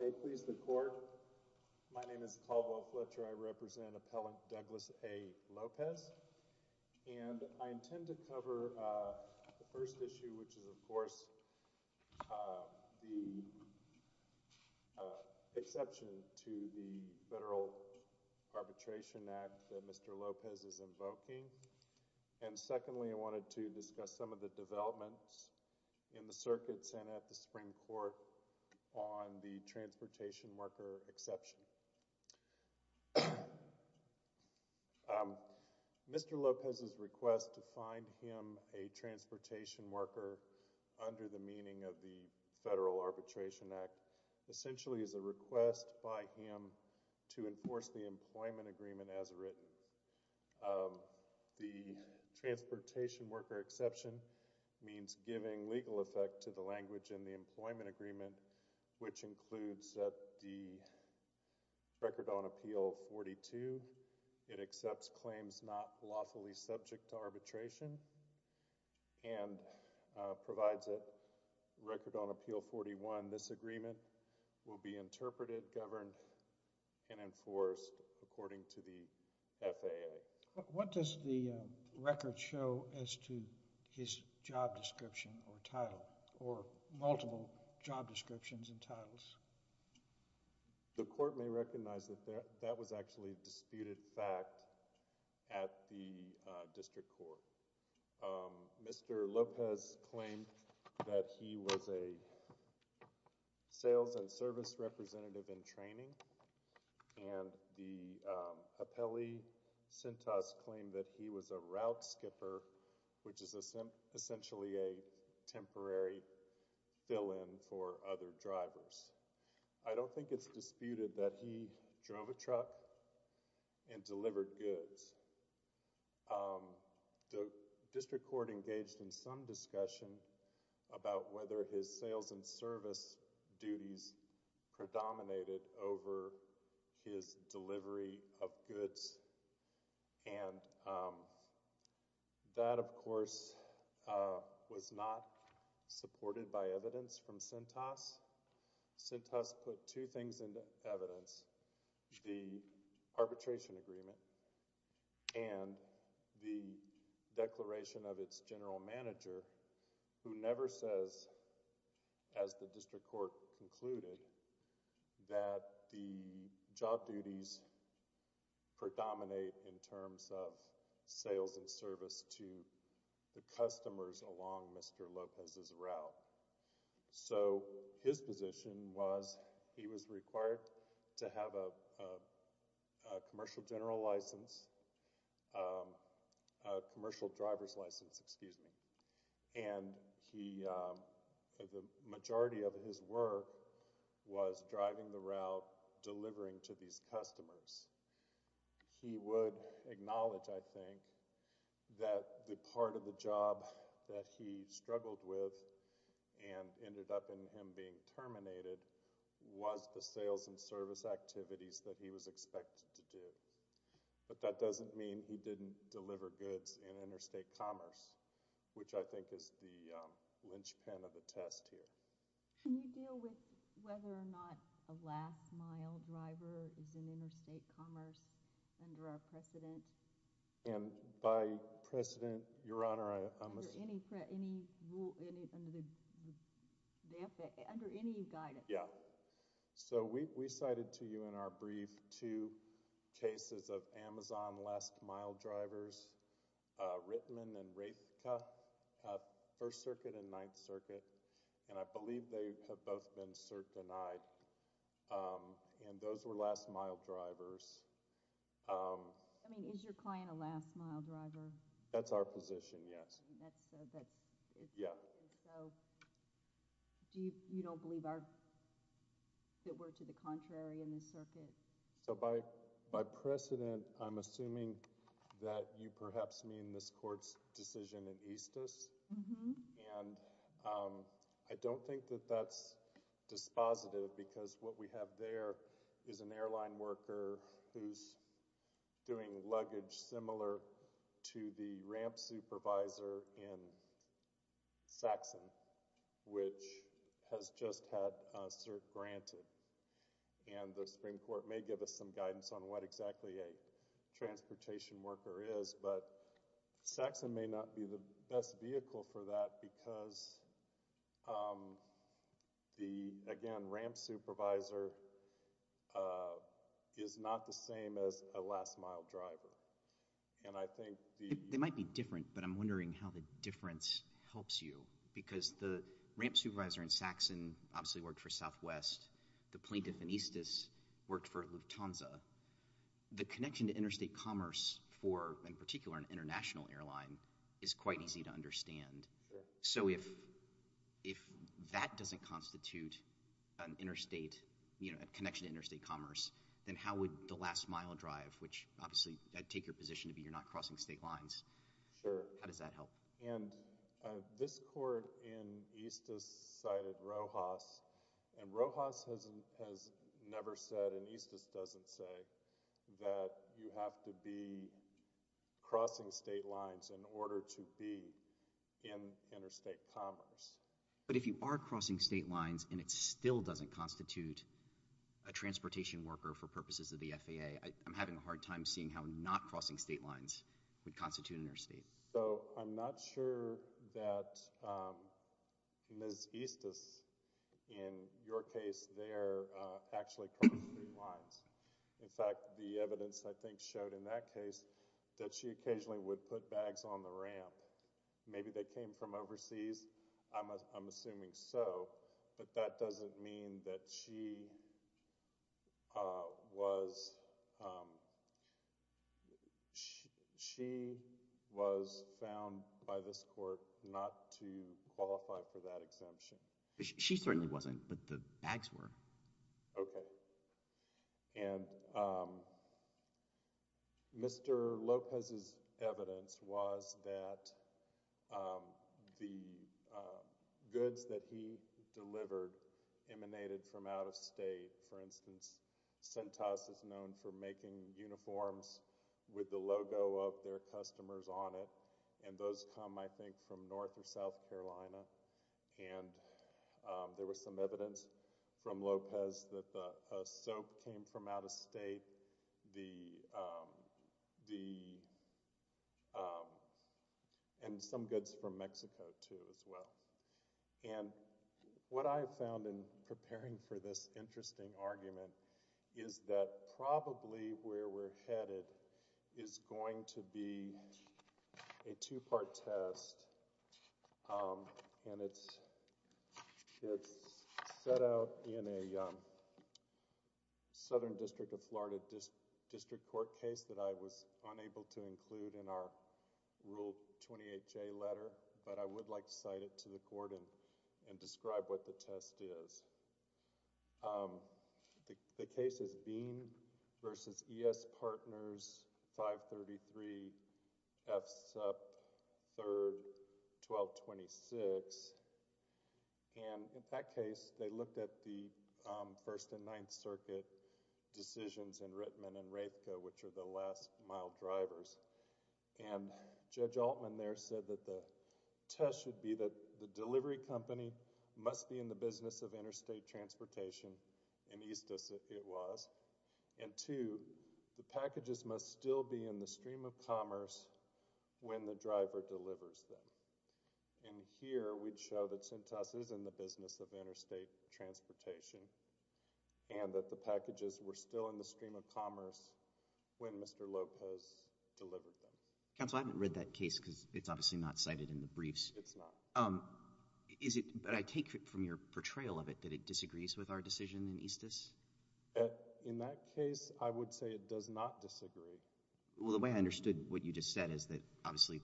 They please the court. My name is Caldwell Fletcher. I represent Appellant Douglas A. Lopez and I intend to cover the first issue, which is of course the exception to the Federal Arbitration Act that Mr. Lopez is invoking. And secondly, I wanted to discuss some of the developments in the circuits and at the Supreme Court on the transportation worker exception. Mr. Lopez's request to find him a transportation worker under the meaning of the Federal Arbitration Act essentially is a request by him to enforce the employment agreement as written. The transportation worker exception means giving legal effect to the language in the employment agreement, which includes the record on Appeal 42. It accepts claims not lawfully subject to arbitration and provides a record on Appeal 41. This agreement will be interpreted, governed, and enforced according to the FAA. What does the record show as to his job description or title or multiple job descriptions and titles? The court may recognize that that was actually disputed fact at the District Court. Mr. Lopez claimed that he was a sales and service representative in training, and the Appellee Cintas claimed that he was a route skipper, which is essentially a temporary fill-in for other drivers. I don't think it's disputed that he drove a truck and delivered goods. The District Court engaged in some discussion about whether his sales and service duties predominated over his delivery of goods, and that, of course, was not supported by evidence from Cintas. Cintas put two things into evidence, the arbitration agreement and the declaration of its general manager, who never says, as the District Court concluded, that the job duties predominate in terms of a commercial driver's license. The majority of his work was driving the route, delivering to these customers. He would acknowledge, I think, that the part of the job that he was supposed to do was delivering goods. He would acknowledge that the part of the job that he was supposed to do was delivering goods. He would acknowledge that he was supposed to do the sales and service activities that he was expected to do, but that doesn't mean he didn't deliver goods in interstate commerce, which I think is the linchpin of the test here. Can you deal with whether or not a last-mile driver is in interstate commerce under our precedent? And by precedent, Your Honor, I must—Under any rule, under any guidance. Yeah. So we cited to you in our brief two cases of Amazon last-mile drivers, Rittman and Raithka, First Circuit and Ninth Circuit, and I believe they have both been cert denied, and those were last-mile drivers. I mean, is your client a last-mile driver? That's our position, yes. Yeah. So you don't believe that we're to the contrary in this court's decision in Eastus? Mm-hmm. And I don't think that that's dispositive, because what we have there is an airline worker who's doing luggage similar to the ramp supervisor in Saxon, which has just had a cert granted. And the Supreme Court may give us some guidance on what exactly a transportation worker is, but Saxon may not be the best vehicle for that because the, again, ramp supervisor is not the same as a last-mile driver. And I think the— They might be different, but I'm wondering how the difference helps you, because the ramp supervisor in Saxon obviously worked for Southwest. The plaintiff in Eastus worked for Lufthansa. The connection to interstate commerce for, in particular, an international airline is quite easy to understand. So if that doesn't constitute an interstate, you know, a connection to interstate commerce, then how would the last-mile drive, which obviously I take your position to be you're not crossing state lines, how does that help? And this court in Eastus cited Rojas, and Rojas has never said, and Eastus doesn't say, that you have to be crossing state lines in order to be in interstate commerce. But if you are crossing state lines and it still doesn't constitute a transportation worker for purposes of the FAA, I'm having a hard time seeing how not crossing state lines would constitute an interstate. So I'm not sure that Ms. Eastus, in your case there, actually crossed state lines. In fact, the evidence I think showed in that case that she occasionally would put bags on the ramp. Maybe they came from overseas. I'm assuming so, but that doesn't mean that she was, she was found by this court not to qualify for that exemption. She certainly wasn't, but the bags were. Okay. And Mr. Lopez's evidence was that the goods that he delivered emanated from out of state. For instance, Centas is known for making uniforms with the logo of their customers on it, and those come, I think, from North or South Carolina. And there was some evidence from Lopez that the soap came from out of state, and some goods from Mexico too as well. And what I have found in preparing for this interesting argument is that probably where we're headed is going to be a two-part test, and it's set out in a Southern District of Florida District Court case that I was unable to include in our Rule 28J letter, but I would like to cite it to the court and 1226. And in that case, they looked at the First and Ninth Circuit decisions in Rittman and Rapeco, which are the last mile drivers, and Judge Altman there said that the test should be that the delivery company must be in the business of interstate transportation in East Mississippi it was, and two, the packages must still be in the stream of commerce when the driver delivers them. And here, we'd show that Centas is in the business of interstate transportation and that the packages were still in the stream of commerce when Mr. Lopez delivered them. Counsel, I haven't read that case because it's obviously not cited in the briefs. It's not. Is it, but I take it from your portrayal of it that it disagrees with our decision in Eastus? In that case, I would say it does not disagree. Well, the way I understood what you just said is that, obviously,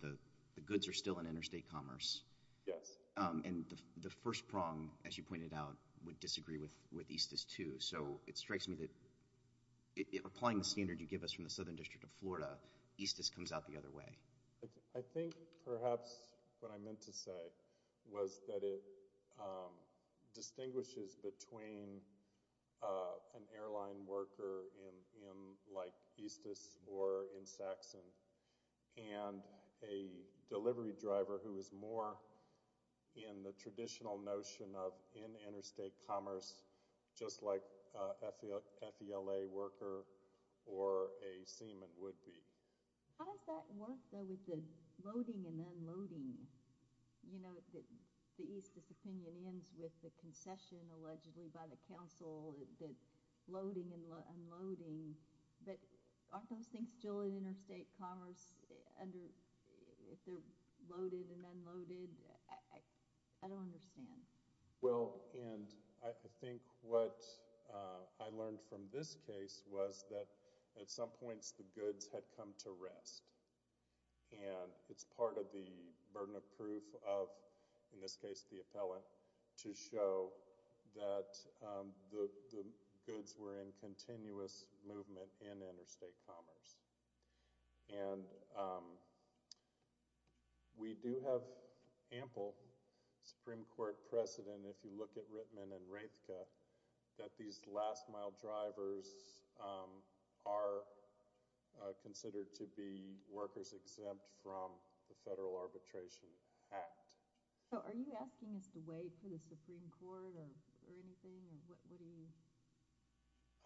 the goods are still in interstate commerce. Yes. And the first prong, as you pointed out, would disagree with Eastus, too. So, it strikes me that, applying the standard you give us from the Southern District of Florida, Eastus comes out the other way. I think, perhaps, what I meant to say was that it distinguishes between an airline worker like Eastus or in Saxon and a delivery driver who is more in the traditional notion of in interstate commerce, just like a FELA worker or a seaman would be. How does that work, though, with the loading and unloading? You know, the Eastus opinion ends with the concession, allegedly, by the council that loading and unloading, but aren't those things still in interstate commerce if they're loaded and unloaded? I don't understand. Well, and I think what I learned from this case was that, at some points, the goods had come to rest. And it's part of the burden of proof of, in this case, the appellant, to show that the goods were in continuous movement in interstate commerce. And we do have ample Supreme Court precedent, if you look at Rittman and Raethke, that these last two years have been considered to be workers exempt from the Federal Arbitration Act. So are you asking us to wait for the Supreme Court or anything?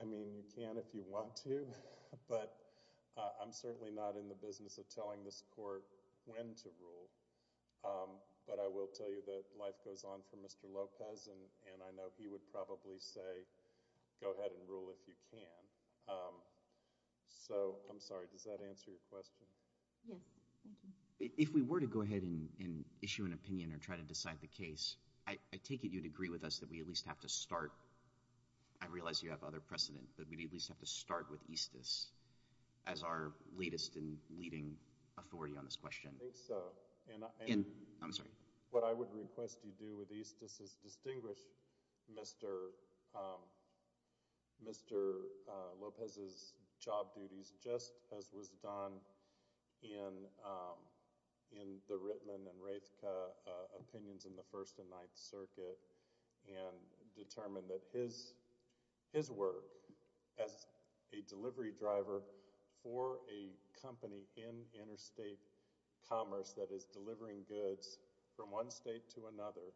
I mean, you can if you want to, but I'm certainly not in the business of telling this court when to rule. But I will tell you that life goes on for Mr. Lopez, and I know he would probably say, go ahead and rule if you can. So I'm sorry, does that answer your question? Yes, thank you. If we were to go ahead and issue an opinion or try to decide the case, I take it you'd agree with us that we at least have to start, I realize you have other precedent, but we at least have to start with Eastus as our latest and leading authority on this question. I think so. I'm sorry. What I would request you do with Eastus is distinguish Mr. Lopez's job duties just as was done in the Rittman and Raethke opinions in the First and Ninth Circuit and determine that his work as a delivery driver for a company in interstate commerce that is delivering goods from one state to another,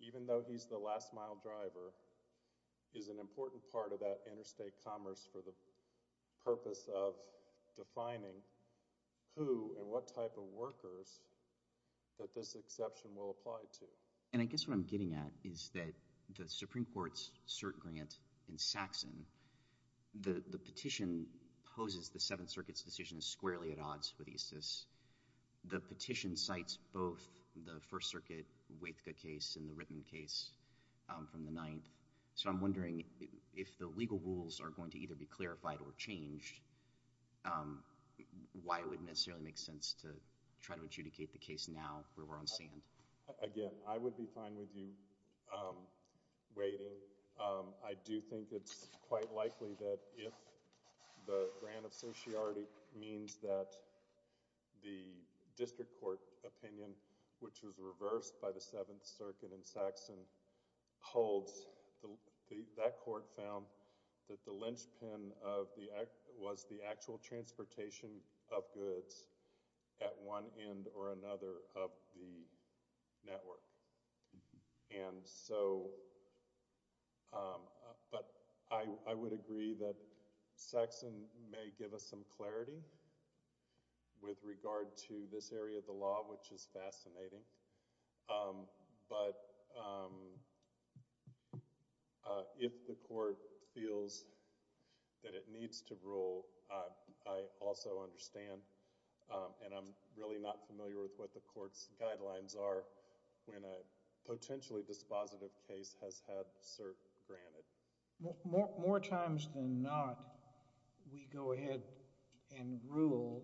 even though he's the last mile driver, is an important part of that interstate commerce for the purpose of defining who and what type of workers that this exception will apply to. And I guess what I'm getting at is that the Supreme Court's cert grant in Saxon, the petition poses the Seventh Circuit's decision squarely at odds with Eastus. The petition cites both the First Circuit Raethke case and the Rittman case from the Ninth, so I'm wondering if the legal rules are going to either be clarified or changed, why it wouldn't necessarily make sense to try to adjudicate the case now where we're on sand. Again, I would be fine with you waiting. I do think it's quite likely that if the grant of sociarty means that the district court opinion, which was reversed by the Seventh Circuit in Saxon, holds, that court found that the linchpin was the actual transportation of goods at one end or another of the network. And so, but I would agree that Saxon may give us some clarity with regard to this area of the law, which is fascinating, but if the court feels that it needs to rule, I also understand and I'm really not familiar with what the court's guidelines are when a potentially dispositive case has had cert granted. More times than not, we go ahead and rule,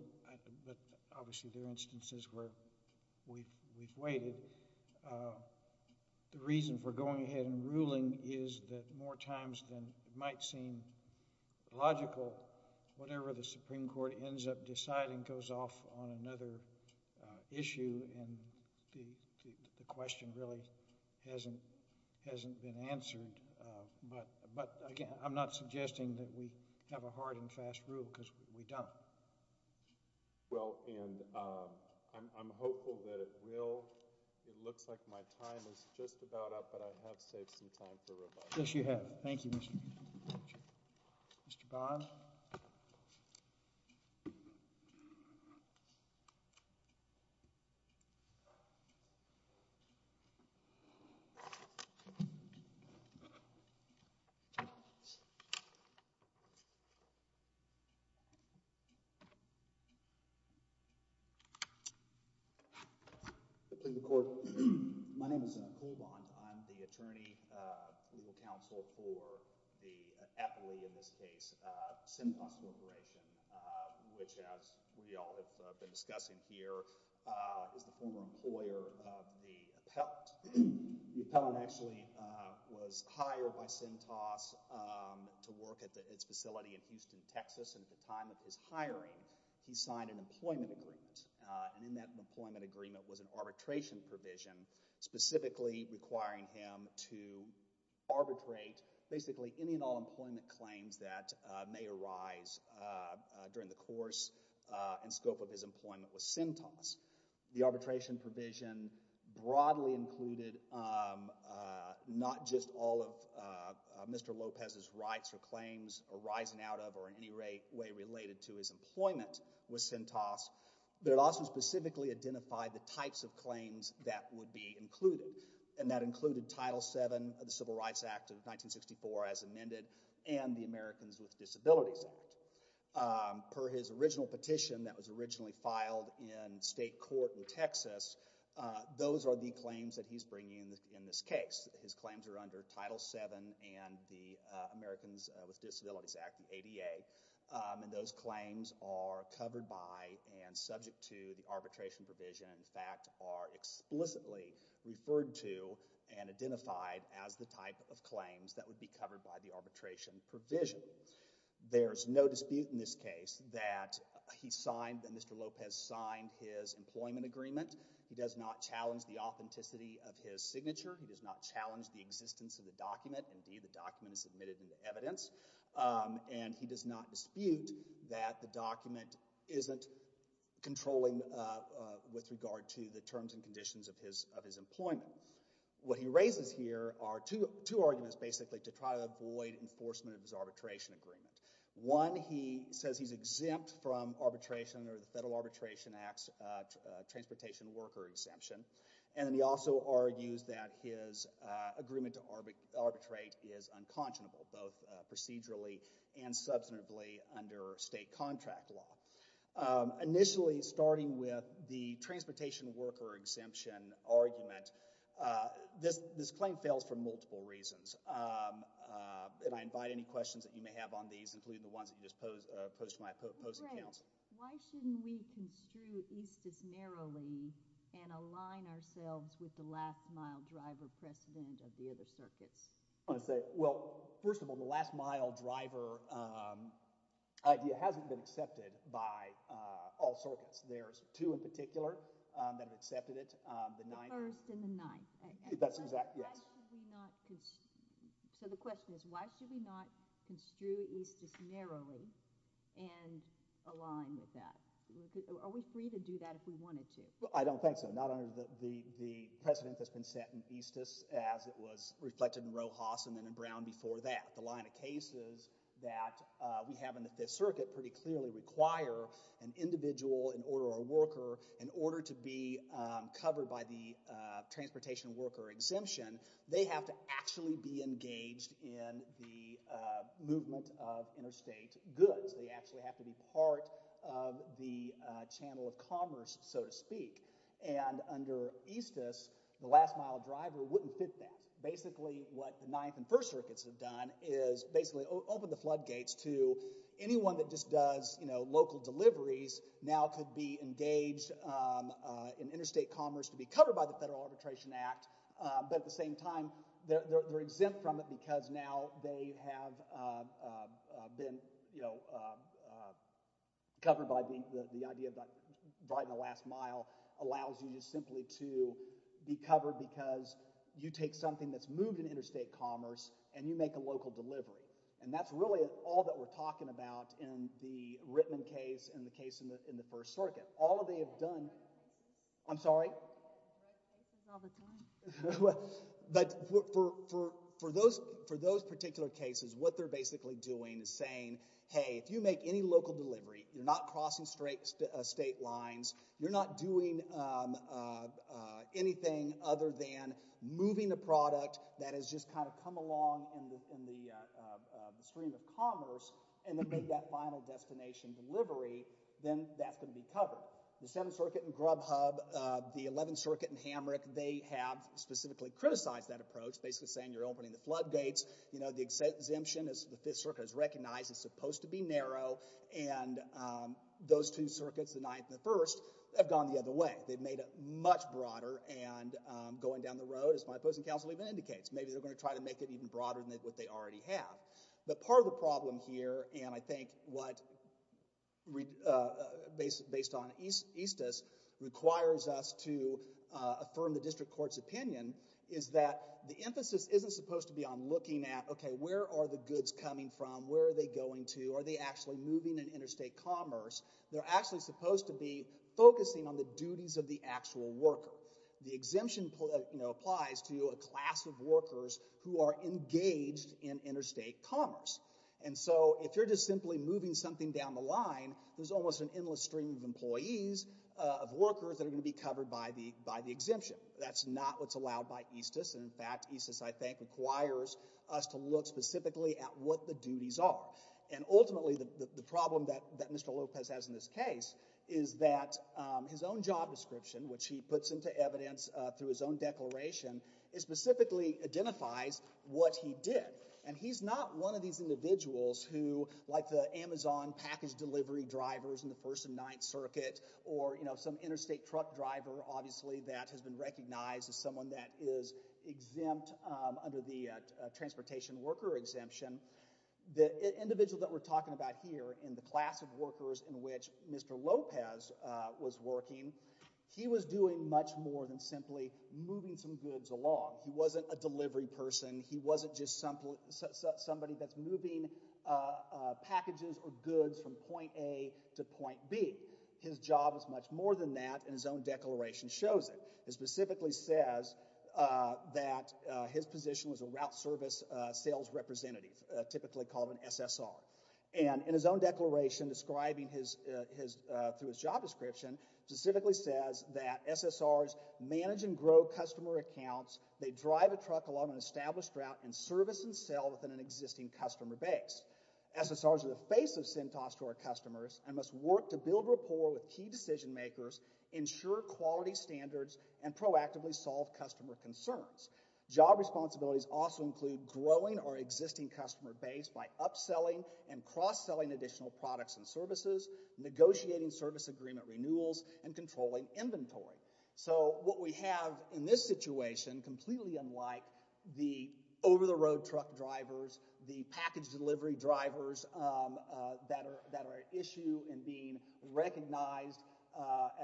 but obviously there are instances where we've waited. The reason for going ahead and ruling is that more times than it might seem logical, but whatever the Supreme Court ends up deciding goes off on another issue and the question really hasn't been answered. But again, I'm not suggesting that we have a hard and fast rule because we don't. Well, and I'm hopeful that it will. It looks like my time is just about up, but I have saved some time for rebuttal. Yes, you have. Thank you, Mr. Chairman. Mr. Bond? Please record. My name is Cool Bond. I'm the attorney, legal counsel for the appellee in this case. Cintas Corporation, which as we all have been discussing here, is the former employer of the appellant. The appellant actually was hired by Cintas to work at its facility in Houston, Texas, and at the time of his hiring, he signed an employment agreement. And in that employment agreement was an arbitration provision specifically requiring him to arbitrate basically any and all employment claims that may arise during the course and scope of his employment with Cintas. The arbitration provision broadly included not just all of Mr. Lopez's rights or claims arising out of or in any way related to his employment with Cintas, but it also specifically identified the types of claims that would be included. And that included Title VII of the Civil Rights Act of 1964 as amended and the Americans with Disabilities Act. Per his original petition that was originally filed in state court in Texas, those are the claims that he's bringing in this case. His claims are under Title VII and the Americans with Disabilities Act, the ADA. And those claims are covered by and subject to the arbitration provision, in fact, are explicitly referred to and identified as the type of claims that would be covered by the arbitration provision. There's no dispute in this case that he signed, that Mr. Lopez signed his employment agreement. He does not challenge the authenticity of his signature. He does not challenge the existence of the document. Indeed, the document is admitted into evidence. And he does not dispute that the document isn't controlling with regard to the terms and conditions of his employment. What he raises here are two arguments, basically, to try to avoid enforcement of his arbitration agreement. One, he says he's exempt from arbitration or the Federal Arbitration Act's transportation worker exemption. And then he also argues that his agreement to arbitrate is unconscionable, both procedurally and substantively under state contract law. Initially, starting with the transportation worker exemption argument, this claim fails for multiple reasons. And I invite any questions that you may have on these, including the ones that just posed to my opposing counsel. Why shouldn't we construe East as narrowly and align ourselves with the last mile driver precedent of the other circuits? I want to say, well, first of all, the last mile driver idea hasn't been accepted by all circuits. There's two in particular that have accepted it. The first and the ninth. That's exact, yes. So the question is, why should we not construe East as narrowly and align with that? Are we free to do that if we wanted to? I don't think so. Not under the precedent that's been set in East as it was reflected in Rojas and then in Brown before that. The line of cases that we have in the Fifth Circuit pretty clearly require an individual in order to be covered by the transportation worker exemption, they have to actually be engaged in the movement of interstate goods. They actually have to be part of the channel of commerce, so to speak. And under Eastus, the last mile driver wouldn't fit that. Basically, what the Ninth and First Circuits have done is basically open the floodgates to anyone that just does local deliveries now could be engaged in interstate commerce to be covered by the Federal Arbitration Act, but at the same time, they're exempt from it because now they have been covered by the idea that driving the last mile allows you just simply to be covered because you take something that's moved in interstate commerce and you make a local delivery. And that's really all that we're talking about in the Rittman case and the case in the First Circuit. All they have done, I'm sorry, but for those particular cases, what they're basically doing is saying, hey, if you make any local delivery, you're not crossing straight state lines, you're not doing anything other than moving the product that has just kind of come along in the stream of commerce and then make that final destination delivery, then that's going to be covered. The Seventh Circuit in Grubhub, the Eleventh Circuit in Hamrick, they have specifically criticized that approach, basically saying you're opening the floodgates. The exemption, as the Fifth Circuit has recognized, is supposed to be narrow, and those two circuits, the Ninth and the First, have gone the other way. They've made it much broader and going down the road, as my opposing counsel even indicates, maybe they're going to try to make it even broader than what they already have. But part of the problem here, and I think what, based on Eastus, requires us to affirm the district court's opinion, is that the emphasis isn't supposed to be on looking at, okay, where are the goods coming from, where are they going to, are they actually moving in interstate commerce? They're actually supposed to be focusing on the duties of the actual worker. The exemption applies to a class of workers who are engaged in interstate commerce. And so, if you're just simply moving something down the line, there's almost an endless stream of employees, of workers, that are going to be covered by the exemption. That's not what's allowed by Eastus, and in fact, Eastus, I think, requires us to look specifically at what the duties are. And ultimately, the problem that Mr. Lopez has in this case is that his own job description, which he puts into evidence through his own declaration, specifically identifies what he did. And he's not one of these individuals who, like the Amazon package delivery drivers in the First and Ninth Circuit, or some interstate truck driver, obviously, that has been recognized as someone that is exempt under the transportation worker exemption. The individual that we're talking about here in the class of workers in which Mr. Lopez was working, he was doing much more than simply moving some goods along. He wasn't a delivery person. He wasn't just somebody that's moving packages or goods from point A to point B. His job is much more than that, and his own declaration shows it. It specifically says that his position was a route service sales representative, typically called an SSR. And in his own declaration, describing through his job description, specifically says that SSRs manage and grow customer accounts. They drive a truck along an established route and service and sell within an existing customer base. SSRs are the face of CentOS to our customers and must work to build rapport with key decision makers, ensure quality standards, and proactively solve customer concerns. Job responsibilities also include growing our existing customer base by upselling and cross-selling additional products and services, negotiating service agreement renewals, and controlling inventory. So what we have in this situation, completely unlike the over-the-road truck drivers, the package delivery drivers that are at issue and being recognized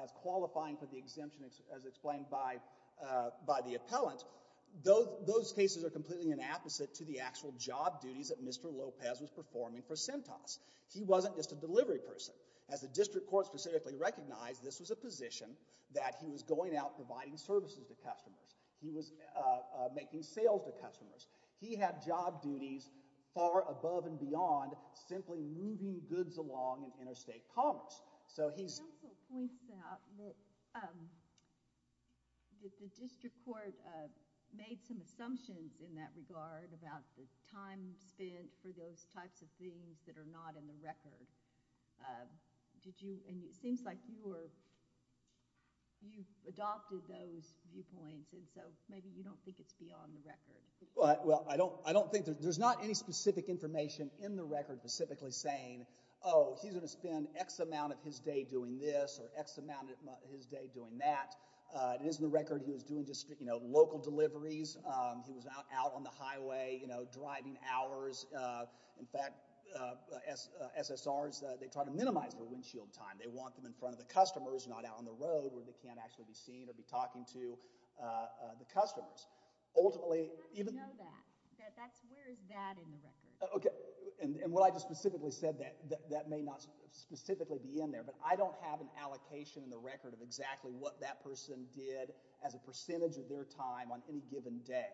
as qualifying for the appellant, those cases are completely an opposite to the actual job duties that Mr. Lopez was performing for CentOS. He wasn't just a delivery person. As the district court specifically recognized, this was a position that he was going out providing services to customers. He was making sales to customers. He had job duties far above and beyond simply moving goods along in interstate commerce. It also points out that the district court made some assumptions in that regard about the time spent for those types of things that are not in the record. It seems like you adopted those viewpoints, so maybe you don't think it's beyond the record. Well, I don't think there's any specific information in the record specifically saying, oh, he's going to spend X amount of his day doing this or X amount of his day doing that. It is in the record he was doing just, you know, local deliveries. He was out on the highway, you know, driving hours. In fact, SSRs, they try to minimize their windshield time. They want them in front of the customers, not out on the road where they can't actually be seen or be talking to the customers. Ultimately... How do you know that? Where is that in the record? Okay. And what I just specifically said, that may not specifically be in there, but I don't have an allocation in the record of exactly what that person did as a percentage of their time on any given day.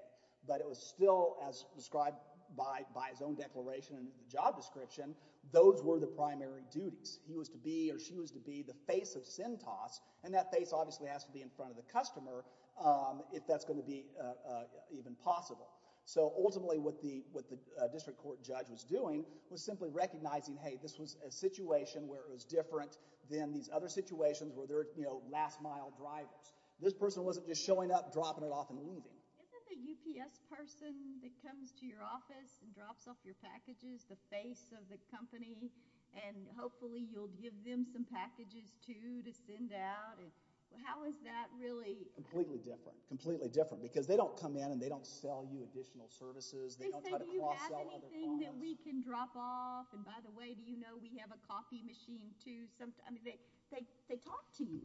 But it was still as described by his own declaration in the job description, those were the primary duties. He was to be or she was to be the face of CENTAS, and that face obviously has to be in front of the customer if that's going to be even possible. So ultimately what the district court judge was doing was simply recognizing, hey, this was a situation where it was different than these other situations where they're, you know, last mile drivers. This person wasn't just showing up, dropping it off, and leaving. Isn't the UPS person that comes to your office and drops off your packages the face of the company, and hopefully you'll give them some packages too to send out? How is that really... Completely different. Completely different. Because they don't come in and they don't sell you additional services. They say, do you have anything that we can drop off? And by the way, do you know we have a coffee machine too? They talk to you.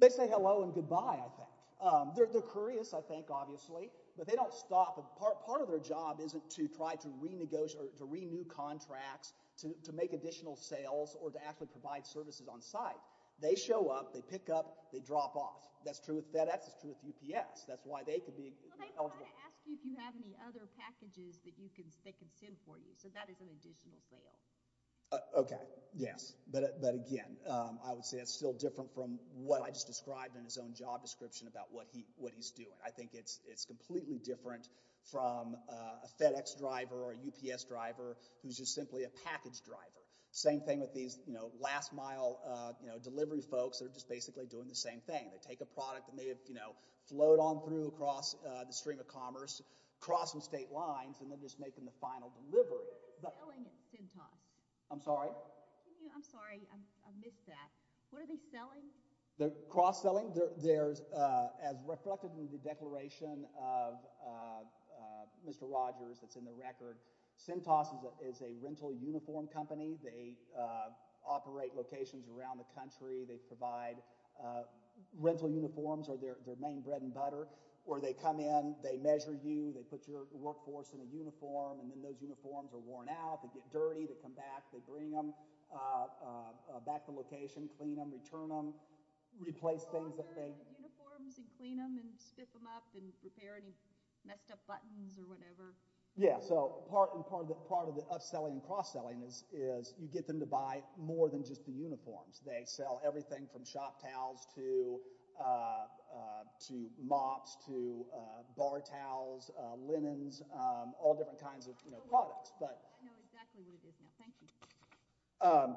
They say hello and goodbye, I think. They're curious, I think, obviously. But they don't stop. Part of their job isn't to try to renegotiate or to renew contracts, to make additional sales, or to actually provide services on site. They show up, they pick up, they drop off. That's true with FedEx. That's true with UPS. That's why they could be eligible. Well, they want to ask you if you have any other packages that they can send for you. So that is an additional sale. Okay. Yes. But again, I would say that's still different from what I just described in his own job description about what he's doing. I think it's completely different from a FedEx driver or a UPS driver who's just simply a package driver. Same thing with these, you know, last mile delivery folks that are just basically doing the same thing. They take a product and they, you know, float on through across the stream of commerce, cross some state lines, and they're just making the final delivery. What are they selling at Centos? I'm sorry? I'm sorry. I missed that. What are they selling? They're cross-selling. There's, as reflected in the declaration of Mr. Rogers that's in the record, Centos is a rental uniform company. They operate locations around the country. They provide rental uniforms are their main bread and butter. Or they come in, they measure you, they put your workforce in a uniform, and then those uniforms are worn out. They get dirty. They come back. They bring them back to location, clean them, return them, replace things that they— So offer uniforms and clean them and spiff them up and repair any messed up buttons or whatever? Yeah. So part of the upselling and cross-selling is you get them to buy more than just the uniforms. They sell everything from shop towels to mops to bar towels, linens, all different kinds of products. I know exactly what it is now. Thank you.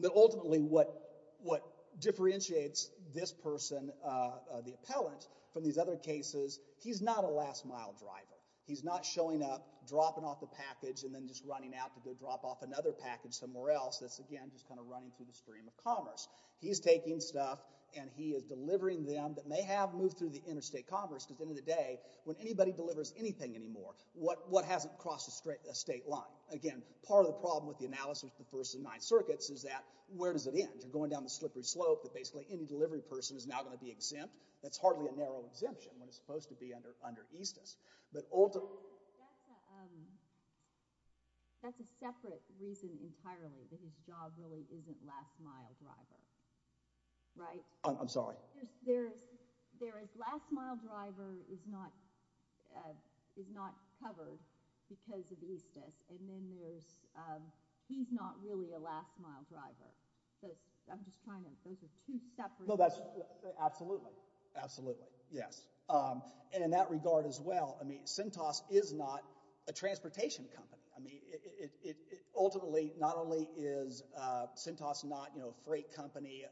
But ultimately what differentiates this person, the appellant, from these other cases, he's not a last mile driver. He's not showing up, dropping off the package, and then just running out to go drop off another package somewhere else. That's, again, just kind of running through the stream of commerce. He's taking stuff and he is delivering them that may have moved through the interstate commerce, because at the end of the day, when anybody delivers anything anymore, what hasn't crossed a state line? Again, part of the problem with the analysis of the First and Ninth Circuits is that, where does it end? You're going down the slippery slope that basically any delivery person is now going to be exempt. That's hardly a narrow exemption when it's supposed to be under EASTIS. That's a separate reason entirely that his job really isn't last mile driver, right? I'm sorry? There is last mile driver is not covered because of EASTIS, and then he's not really a last mile driver. So I'm just trying to, those are two separate reasons. Absolutely. Absolutely. Yes. In that regard as well, Sentos is not a transportation company. Ultimately, not only is Sentos not a freight company,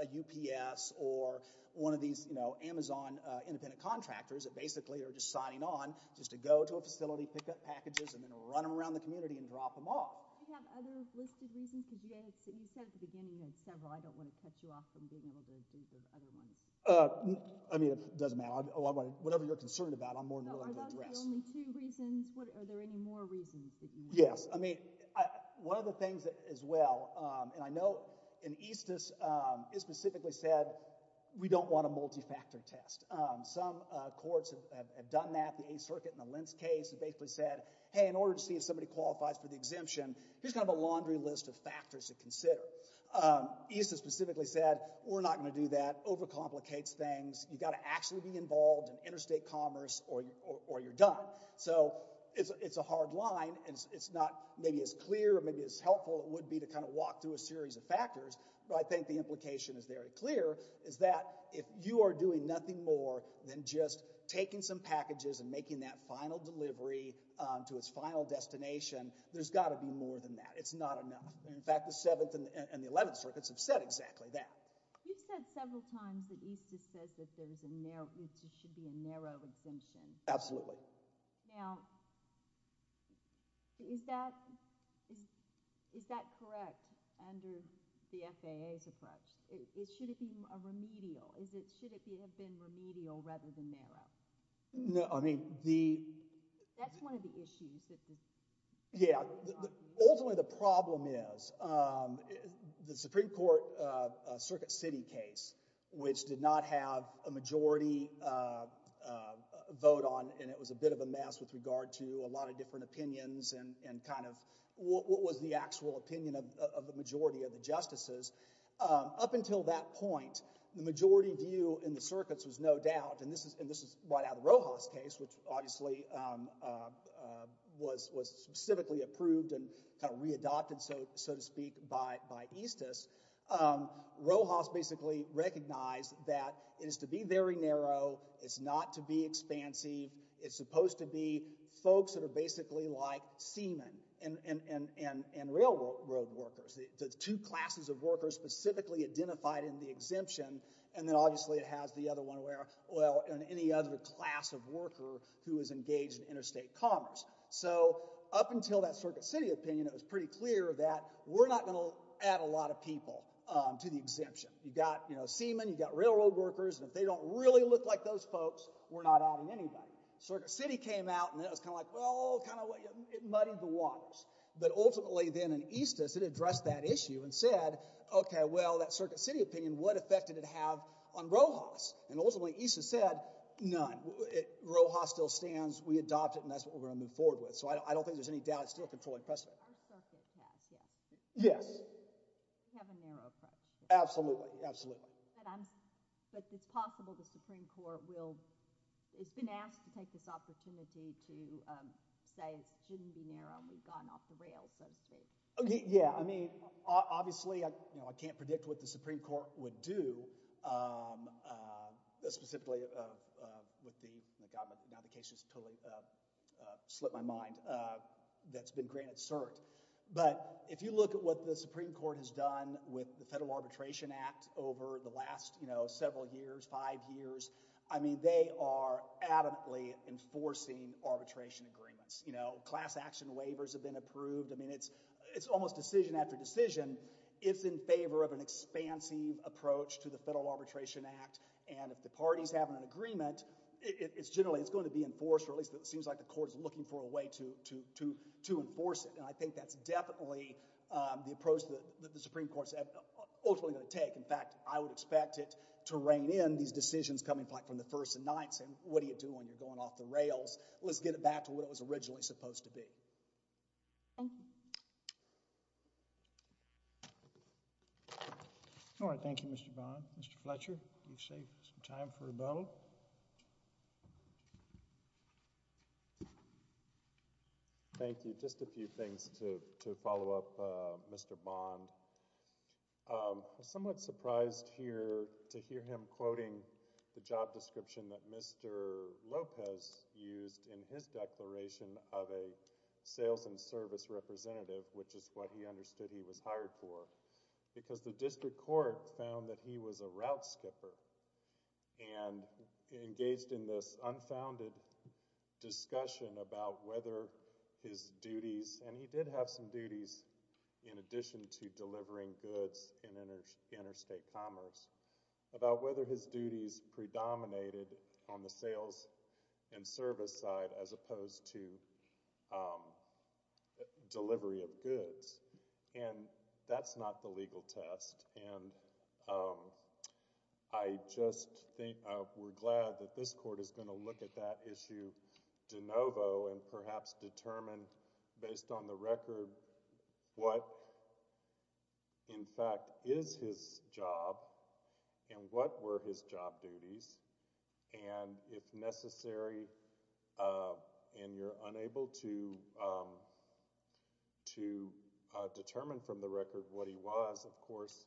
a UPS, or one of these Amazon independent contractors that basically are just signing on just to go to a facility, pick up packages, and then run them around the community and drop them off. Do you have other listed reasons? You said at the beginning that several. I don't want to cut you off from being able to do the other ones. I mean, it doesn't matter. Whatever you're concerned about, I'm more than willing to address. Are those the only two reasons? Are there any more reasons that you want to address? Yes. I mean, one of the things as well, and I know in EASTIS, it specifically said we don't want a multi-factor test. Some courts have done that. The 8th Circuit in the Lentz case basically said, hey, in order to see if somebody qualifies for the exemption, here's kind of a laundry list of factors to consider. EASTIS specifically said, we're not going to do that. It overcomplicates things. You've got to actually be involved in interstate commerce or you're done. So it's a hard line, and it's not maybe as clear or maybe as helpful as it would be to kind of walk through a series of factors, but I think the implication is very clear, is that if you are doing nothing more than just taking some packages and making that final delivery to its final destination, there's got to be more than that. It's not enough. In fact, the 7th and the 11th Circuits have said exactly that. You've said several times that EASTIS says that there should be a narrow exemption. Absolutely. Now, is that correct under the FAA's approach? Should it be remedial? Should it have been remedial rather than narrow? That's one of the issues. Yeah. Ultimately, the problem is the Supreme Court Circuit City case, which did not have a majority vote on, and it was a bit of a mess with regard to a lot of different opinions and kind of what was the actual opinion of the majority of the justices. Up until that point, the majority view in the circuits was no doubt, and this is right Now, the Rojas case, which obviously was specifically approved and kind of readopted, so to speak, by EASTIS, Rojas basically recognized that it is to be very narrow. It's not to be expansive. It's supposed to be folks that are basically like seamen and railroad workers, the two classes of workers specifically identified in the exemption. And then, obviously, it has the other one where, well, any other class of worker who is engaged in interstate commerce. So, up until that Circuit City opinion, it was pretty clear that we're not going to add a lot of people to the exemption. You've got seamen, you've got railroad workers, and if they don't really look like those folks, we're not adding anybody. Circuit City came out, and it was kind of like, well, it muddied the waters. But, ultimately, then in EASTIS, it addressed that issue and said, okay, well, that Circuit City did have on Rojas. And, ultimately, EASTIS said, none. Rojas still stands. We adopt it, and that's what we're going to move forward with. So, I don't think there's any doubt it's still a controlling precedent. I'm stuck at pass, yes. Yes. We have a narrow approach. Absolutely. Absolutely. But, it's possible the Supreme Court will, it's been asked to take this opportunity to say it shouldn't be narrow, and we've gone off the rails, so to speak. Yeah. I mean, obviously, I can't predict what the Supreme Court would do, specifically with the, now the case has totally slipped my mind, that's been granted cert. But, if you look at what the Supreme Court has done with the Federal Arbitration Act over the last several years, five years, I mean, they are adamantly enforcing arbitration agreements. Class action waivers have been approved. I mean, it's almost decision after decision. It's in favor of an expansive approach to the Federal Arbitration Act. And, if the parties have an agreement, it's generally, it's going to be enforced, or at least it seems like the court is looking for a way to enforce it. And, I think that's definitely the approach that the Supreme Court is ultimately going to take. In fact, I would expect it to rein in these decisions coming back from the first and ninth, saying, what are you doing? You're going off the rails. Let's get it back to what it was originally supposed to be. Thank you. All right. Thank you, Mr. Bond. Mr. Fletcher, you've saved some time for rebuttal. Thank you. Just a few things to follow up, Mr. Bond. I'm somewhat surprised here to hear him quoting the job description that Mr. Lopez used in his declaration of a sales and service representative, which is what he understood he was hired for, because the district court found that he was a route skipper and engaged in this unfounded discussion about whether his duties, and he did have some duties in addition to delivering goods in interstate commerce, about whether his duties predominated on the sales and service side as opposed to delivery of goods. And that's not the legal test. And I just think we're glad that this court is going to look at that issue de novo and perhaps determine, based on the record, what, in fact, is his job and what were his job duties, and if necessary, and you're unable to determine from the record what he was, of course,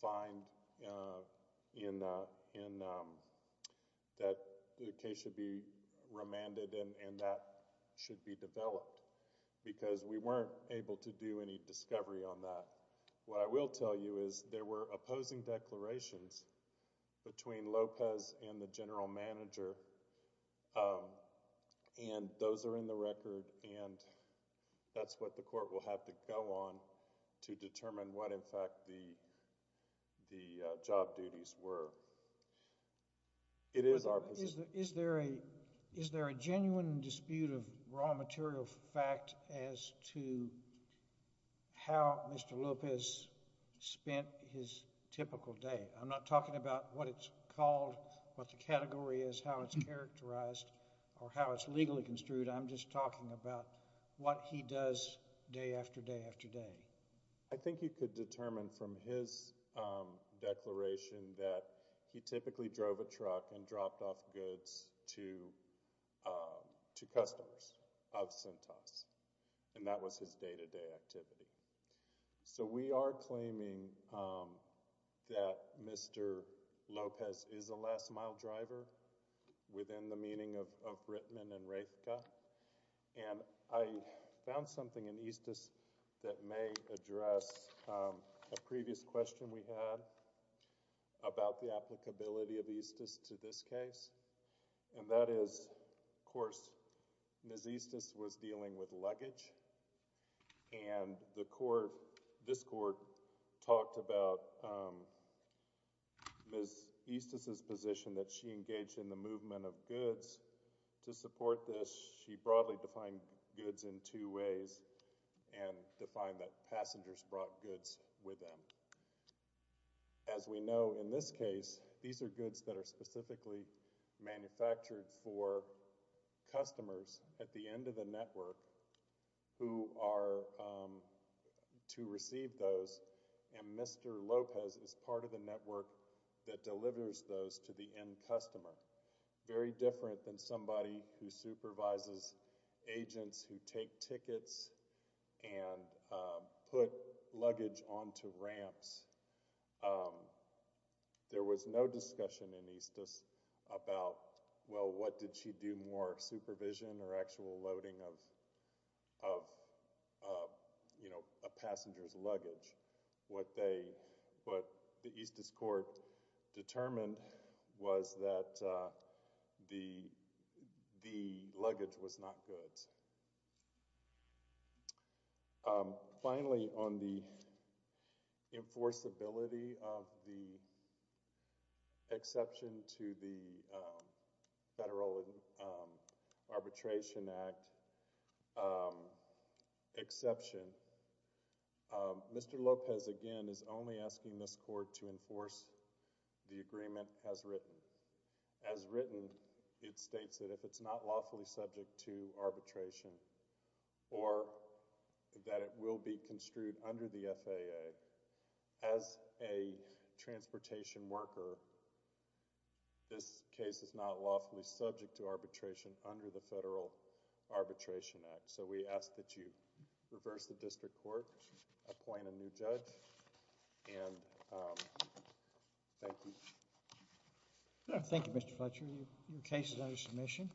find that the case should be remanded and that should be developed, because we weren't able to do any discovery on that. What I will tell you is there were opposing declarations between Lopez and the general manager, and those are in the record, and that's what the court will have to go on to determine what, in fact, the job duties were. It is our position. Is there a genuine dispute of raw material fact as to how Mr. Lopez spent his typical day? I'm not talking about what it's called, what the category is, how it's characterized, or how it's legally construed. I'm just talking about what he does day after day after day. I think you could determine from his declaration that he typically drove a truck and dropped off goods to customers of Cintas, and that was his day-to-day activity. We are claiming that Mr. Lopez is a last-mile driver within the meaning of Rittman and Raithka, and I found something in Estes that may address a previous question we had about the applicability of Estes to this case, and that is, of course, Ms. Estes was dealing with luggage, and this court talked about Ms. Estes' position that she engaged in the movement of goods to support this. She broadly defined goods in two ways and defined that passengers brought goods with them. As we know, in this case, these are goods that are specifically manufactured for customers at the end of the network who are to receive those, and Mr. Lopez is part of the network that delivers those to the end customer, very different than somebody who supervises agents who take tickets and put luggage onto ramps. There was no discussion in Estes about, well, what did she do more, supervision or actual loading of a passenger's luggage? What the Estes Court determined was that the luggage was not goods. Finally, on the enforceability of the exception to the Federal Arbitration Act exception, Mr. Lopez, again, is only asking this court to enforce the agreement as written. It states that if it's not lawfully subject to arbitration or that it will be construed under the FAA, as a transportation worker, this case is not lawfully subject to arbitration under the Federal Arbitration Act. We ask that you reverse the district court, appoint a new judge, and thank you. Thank you, Mr. Fletcher. Your case is under submission.